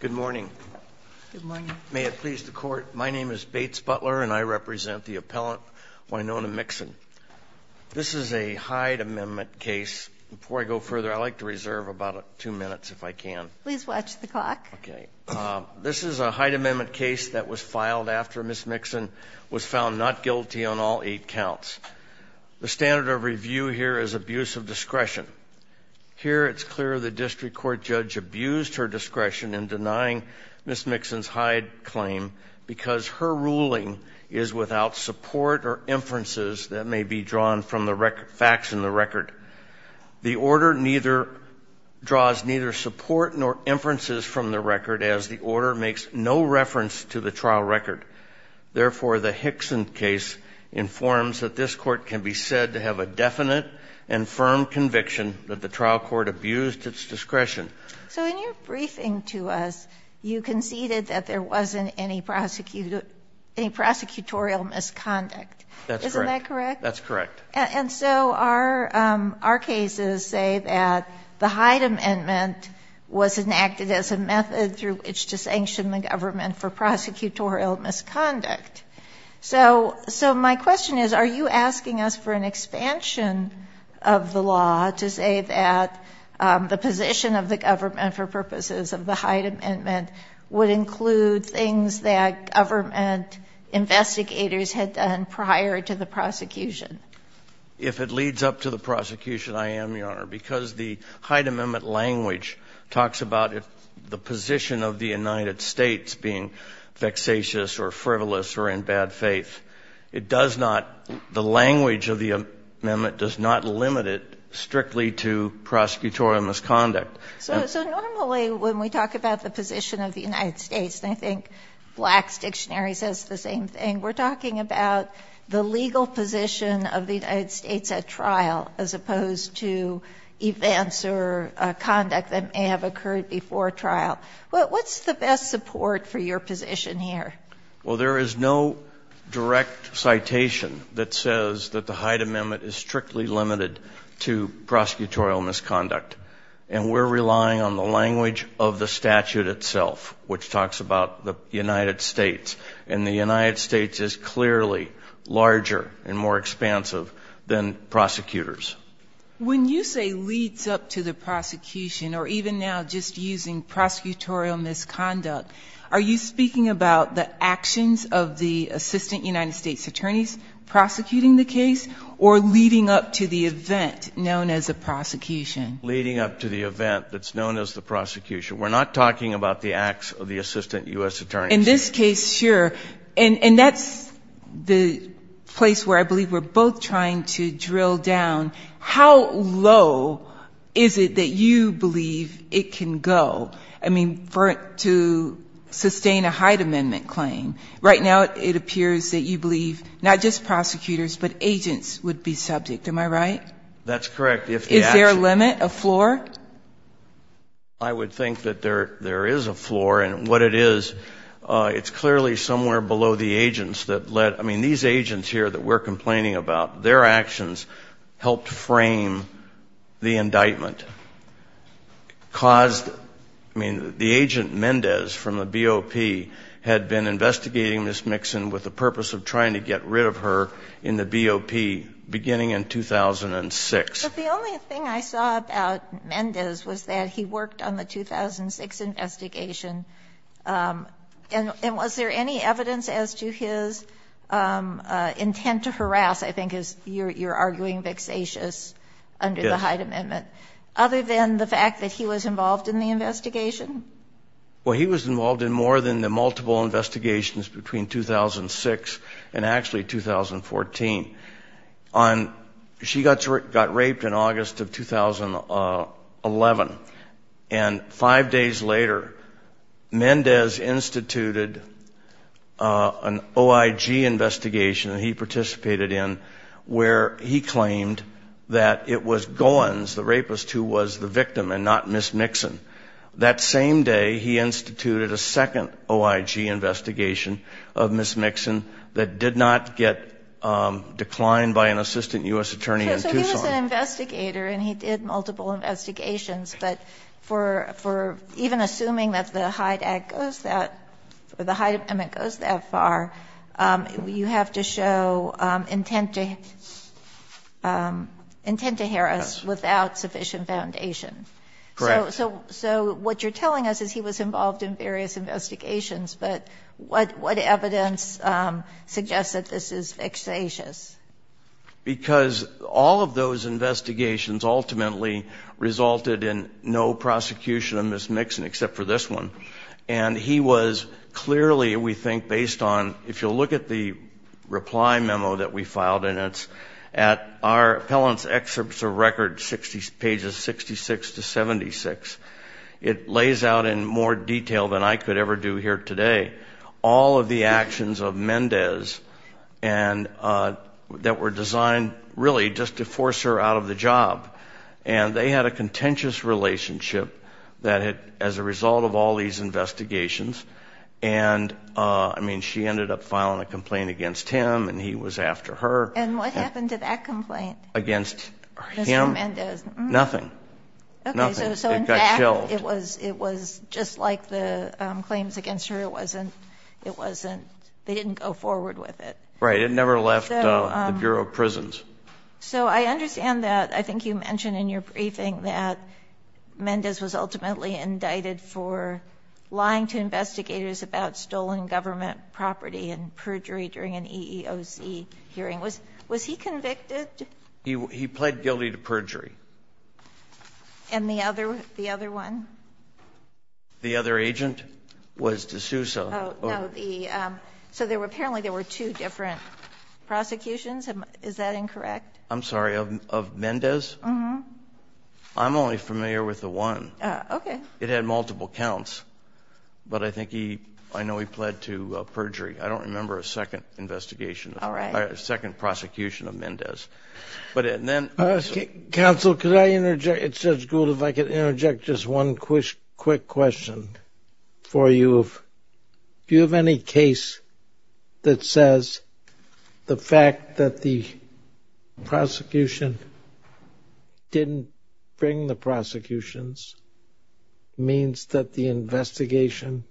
Good morning. May it please the court. My name is Bates Butler and I represent the appellant Wynona Mixon. This is a Hyde Amendment case. Before I go further, I'd like to reserve about two minutes if I can. Please watch the clock. This is a Hyde Amendment case that was filed after Ms. Mixon was found not guilty on all eight counts. Here it's clear the district court judge abused her discretion in denying Ms. Mixon's Hyde claim because her ruling is without support or inferences that may be drawn from the facts in the record. The order draws neither support nor inferences from the record as the order makes no reference to the trial record. Therefore, the Hickson case informs that this court can be said to have a definite and firm conviction that the trial court abused its discretion. So in your briefing to us, you conceded that there wasn't any prosecutorial misconduct. That's correct. Isn't that correct? That's correct. And so our cases say that the Hyde Amendment was enacted as a method through which to sanction the government for prosecutorial misconduct. So my question is, are you asking us for an expansion of the law to say that the position of the government for purposes of the Hyde Amendment would include things that government investigators had done prior to the prosecution? If it leads up to the prosecution, I am, Your Honor. Because the Hyde Amendment language talks about the position of the United States being vexatious or frivolous or in bad faith, it does not – the language of the amendment does not limit it strictly to prosecutorial misconduct. So normally when we talk about the position of the United States, and I think Black's Dictionary says the same thing, we're talking about the legal position of the United States at trial as opposed to events or conduct that may have occurred before trial. What's the best support for your position here? Well, there is no direct citation that says that the Hyde Amendment is strictly limited to prosecutorial misconduct. And we're relying on the language of the statute itself, which talks about the United States. And the United States is clearly larger and more expansive than prosecutors. When you say leads up to the prosecution or even now just using prosecutorial misconduct, are you speaking about the actions of the assistant United States attorneys prosecuting the case or leading up to the event known as the prosecution? Leading up to the event that's known as the prosecution. We're not talking about the acts of the assistant U.S. attorneys. In this case, sure. And that's the place where I believe we're both trying to drill down. How low is it that you believe it can go, I mean, to sustain a Hyde Amendment claim? Right now it appears that you believe not just prosecutors, but agents would be subject. Am I right? That's correct. Is there a limit, a floor? I would think that there is a floor. And what it is, it's clearly somewhere below the agents that led. I mean, these agents here that we're complaining about, their actions helped frame the indictment. I mean, the agent Mendez from the BOP had been investigating Ms. Mixon with the purpose of trying to get rid of her in the BOP beginning in 2006. But the only thing I saw about Mendez was that he worked on the 2006 investigation. And was there any evidence as to his intent to harass, I think you're arguing, vexatious under the Hyde Amendment, other than the fact that he was involved in the investigation? Well, he was involved in more than the multiple investigations between 2006 and actually 2014. She got raped in August of 2011. And five days later, Mendez instituted an OIG investigation that he participated in where he claimed that it was Goins, the rapist, who was the victim and not Ms. Mixon. That same day, he instituted a second OIG investigation of Ms. Mixon that did not get declined by an assistant U.S. attorney in Tucson. So he was an investigator and he did multiple investigations. But for even assuming that the Hyde Act goes that, or the Hyde Amendment goes that far, you have to show intent to harass without sufficient foundation. Correct. So what you're telling us is he was involved in various investigations, but what evidence suggests that this is vexatious? Because all of those investigations ultimately resulted in no prosecution of Ms. Mixon except for this one. And he was clearly, we think, based on, if you'll look at the reply memo that we filed in it, at our appellant's excerpts of record, pages 66 to 76, it lays out in more detail than I could ever do here today all of the actions of Mendez that were designed really just to force her out of the job. And they had a contentious relationship as a result of all these investigations. And, I mean, she ended up filing a complaint against him and he was after her. And what happened to that complaint? Against him? Mr. Mendez. Nothing. It got shelved. Okay, so in fact it was just like the claims against her. It wasn't, they didn't go forward with it. Right. It never left the Bureau of Prisons. So I understand that, I think you mentioned in your briefing that Mendez was ultimately indicted for lying to investigators about stolen government property and perjury during an EEOC hearing. Was he convicted? He pled guilty to perjury. And the other one? The other agent was DeSouza. So apparently there were two different prosecutions. Is that incorrect? I'm sorry, of Mendez? Uh-huh. I'm only familiar with the one. Okay. It had multiple counts. But I think he, I know he pled to perjury. I don't remember a second investigation. All right. A second prosecution of Mendez. Counsel, could I interject? It's Judge Gould, if I could interject just one quick question for you. Do you have any case that says the fact that the prosecution didn't bring the prosecutions means that the investigation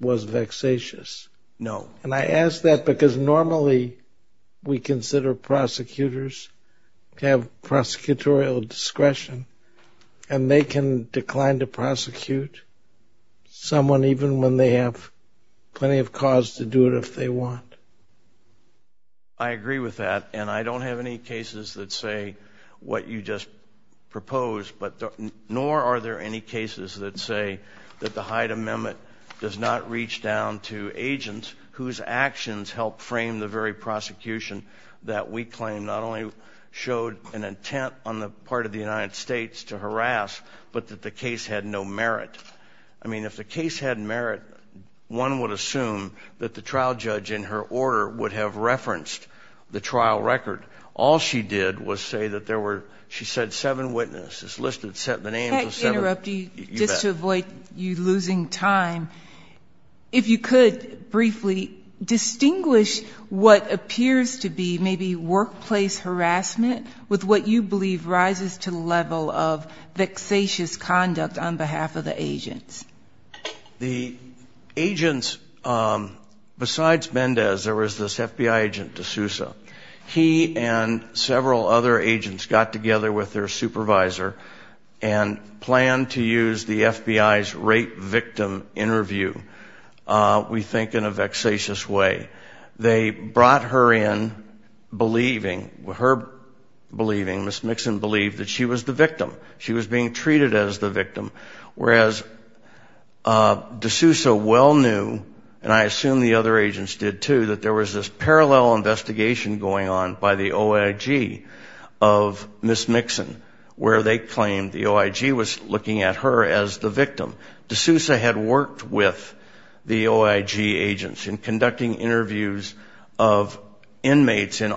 was vexatious? No. And I ask that because normally we consider prosecutors to have prosecutorial discretion, and they can decline to prosecute someone even when they have plenty of cause to do it if they want. I agree with that. And I don't have any cases that say what you just proposed, nor are there any cases that say that the Hyde Amendment does not reach down to agents whose actions help frame the very prosecution that we claim not only showed an intent on the part of the United States to harass, but that the case had no merit. I mean, if the case had merit, one would assume that the trial judge in her order would have referenced the trial record. All she did was say that there were, she said seven witnesses listed, set the names of seven. Can I interrupt you just to avoid you losing time? If you could briefly distinguish what appears to be maybe workplace harassment with what you believe rises to the level of vexatious conduct on behalf of the agents. The agents, besides Mendez, there was this FBI agent DeSouza. He and several other agents got together with their supervisor and planned to use the FBI's rape victim interview, we think in a vexatious way. They brought her in believing, her believing, Ms. Mixon believed that she was the victim. She was being treated as the victim, whereas DeSouza well knew, and I assume the other agents did too, that there was this parallel investigation going on by the OIG of Ms. Mixon and her as the victim. DeSouza had worked with the OIG agents in conducting interviews of inmates in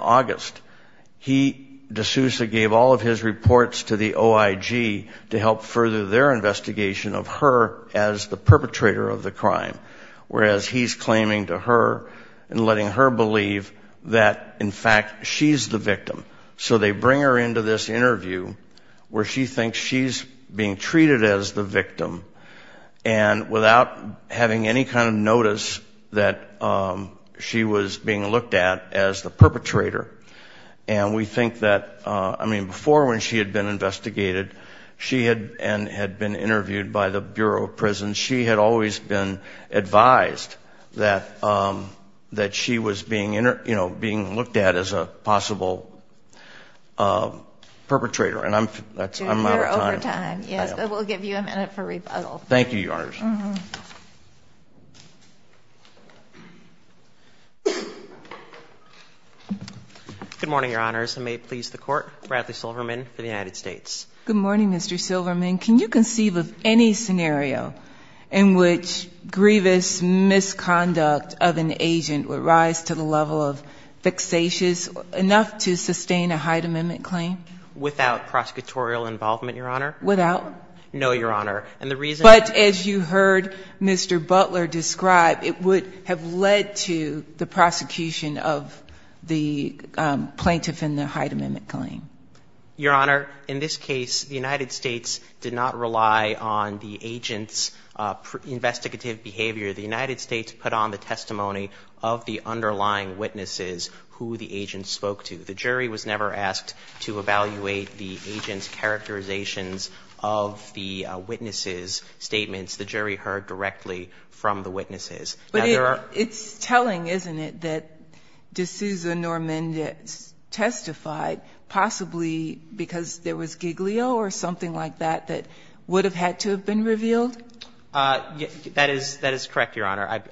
He, DeSouza, gave all of his reports to the OIG to help further their investigation of her as the perpetrator of the crime, whereas he's claiming to her and letting her believe that in fact she's the victim. So they bring her into this interview where she thinks she's being treated as the victim. And without having any kind of notice that she was being looked at as the perpetrator. And we think that, I mean, before when she had been investigated, she had been interviewed by the Bureau of Prisons. She had always been advised that she was being looked at as a possible perpetrator. And I'm, that's, I'm out of time. Yes. We'll give you a minute for rebuttal. Thank you, Your Honor. Good morning, Your Honors. And may it please the court, Bradley Silverman for the United States. Good morning, Mr. Silverman. Can you conceive of any scenario in which grievous misconduct of an agent would have led to the level of fixation enough to sustain a Hyde Amendment claim without prosecutorial involvement, Your Honor? Without? No, Your Honor. And the reason, but as you heard Mr. Butler describe, it would have led to the prosecution of the plaintiff in the Hyde Amendment claim. Your Honor, in this case, the United States did not rely on the agent's investigative behavior. The United States put on the testimony of the underlying witnesses who the agent spoke to. The jury was never asked to evaluate the agent's characterizations of the witnesses' statements. The jury heard directly from the witnesses. But it's telling, isn't it, that de Sousa nor Mendez testified, possibly because there was giglio or something like that, that would have had to have been revealed? That is correct, Your Honor.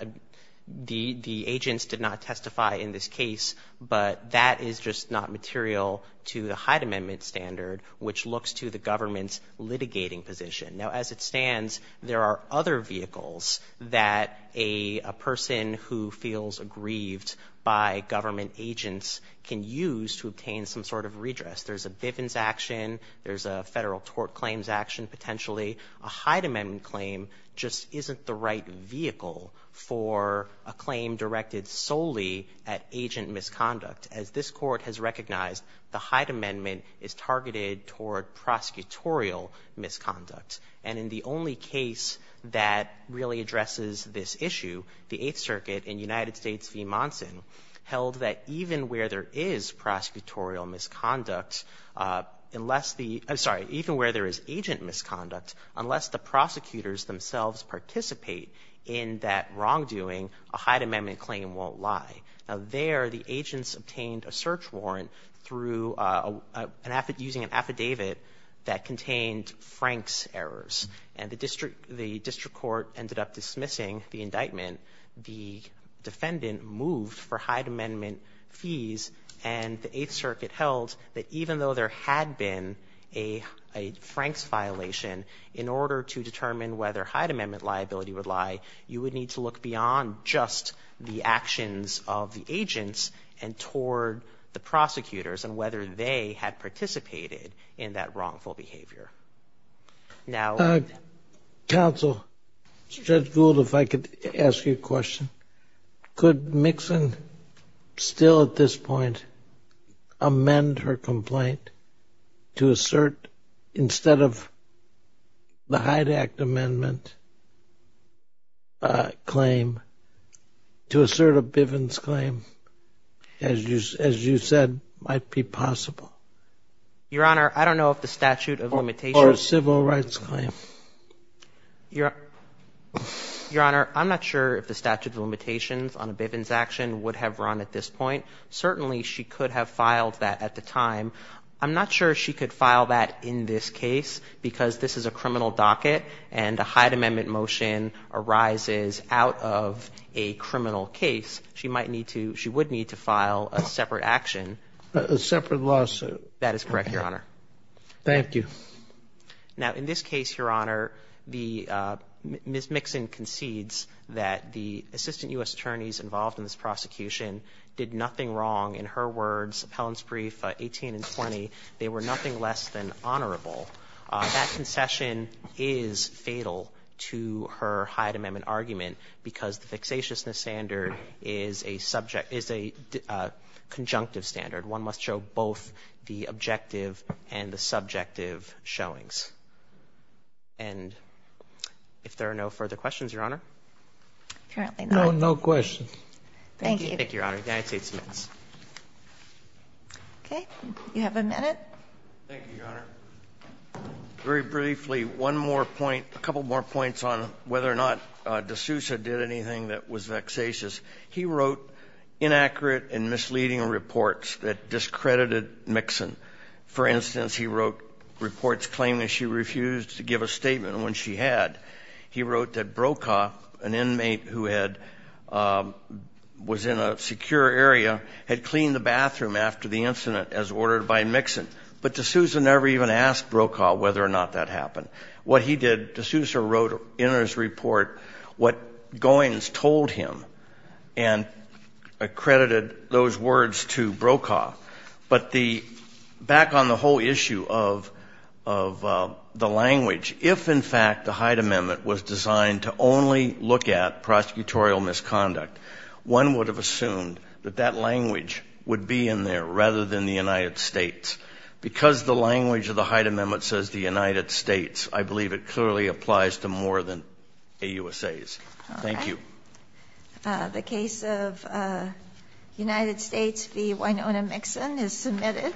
The agents did not testify in this case, but that is just not material to the Hyde Amendment standard, which looks to the government's litigating position. Now, as it stands, there are other vehicles that a person who feels aggrieved by government agents can use to obtain some sort of redress. There's a Bivens action, there's a federal tort claims action, and potentially a Hyde Amendment claim just isn't the right vehicle for a claim directed solely at agent misconduct. As this Court has recognized, the Hyde Amendment is targeted toward prosecutorial misconduct. And in the only case that really addresses this issue, the Eighth Circuit in United States v. Monson held that even where there is agent misconduct, unless the prosecutors themselves participate in that wrongdoing, a Hyde Amendment claim won't lie. There, the agents obtained a search warrant using an affidavit that contained Frank's errors, and the District Court ended up dismissing the indictment. The defendant moved for Hyde Amendment fees, and the Eighth Circuit held that even though there had been a Frank's violation, in order to determine whether Hyde Amendment liability would lie, you would need to look beyond just the actions of the agents and toward the prosecutors and whether they had participated in that wrongful behavior. Counsel, Judge Gould, if I could ask you a question. Could Mixon still at this point amend her complaint to assert, instead of the Hyde Act Amendment claim, to assert a Bivens claim, as you said, might be possible? Your Honor, I don't know if the statute of limitations. Or a civil rights claim. Your Honor, I'm not sure if the statute of limitations on a Bivens action would have run at this point. Certainly she could have filed that at the time. I'm not sure she could file that in this case because this is a criminal docket and a Hyde Amendment motion arises out of a criminal case. She might need to, she would need to file a separate action. A separate lawsuit. That is correct, Your Honor. Thank you. Now, in this case, Your Honor, Ms. Mixon concedes that the assistant U.S. attorneys involved in this prosecution did nothing wrong. In her words, appellants brief 18 and 20, they were nothing less than honorable. That concession is fatal to her Hyde Amendment argument because the objective and the subjective showings. And if there are no further questions, Your Honor. No questions. Thank you, Your Honor. Okay. You have a minute. Thank you, Your Honor. Very briefly, one more point, a couple more points on whether or not DeSouza did anything that was vexatious. He wrote inaccurate and misleading reports that discredited Mixon. For instance, he wrote reports claiming she refused to give a statement when she had. He wrote that Brokaw, an inmate who had, was in a secure area, had cleaned the bathroom after the incident as ordered by Mixon. But DeSouza never even asked Brokaw whether or not that happened. What he did, DeSouza wrote in his report what Goins told him. And accredited those words to Brokaw. But the, back on the whole issue of the language, if in fact the Hyde Amendment was designed to only look at prosecutorial misconduct, one would have assumed that that language would be in there rather than the United States. Because the language of the Hyde Amendment says the United States, I believe it clearly applies to more than AUSAs. Thank you. The case of United States v. Winona Mixon is submitted.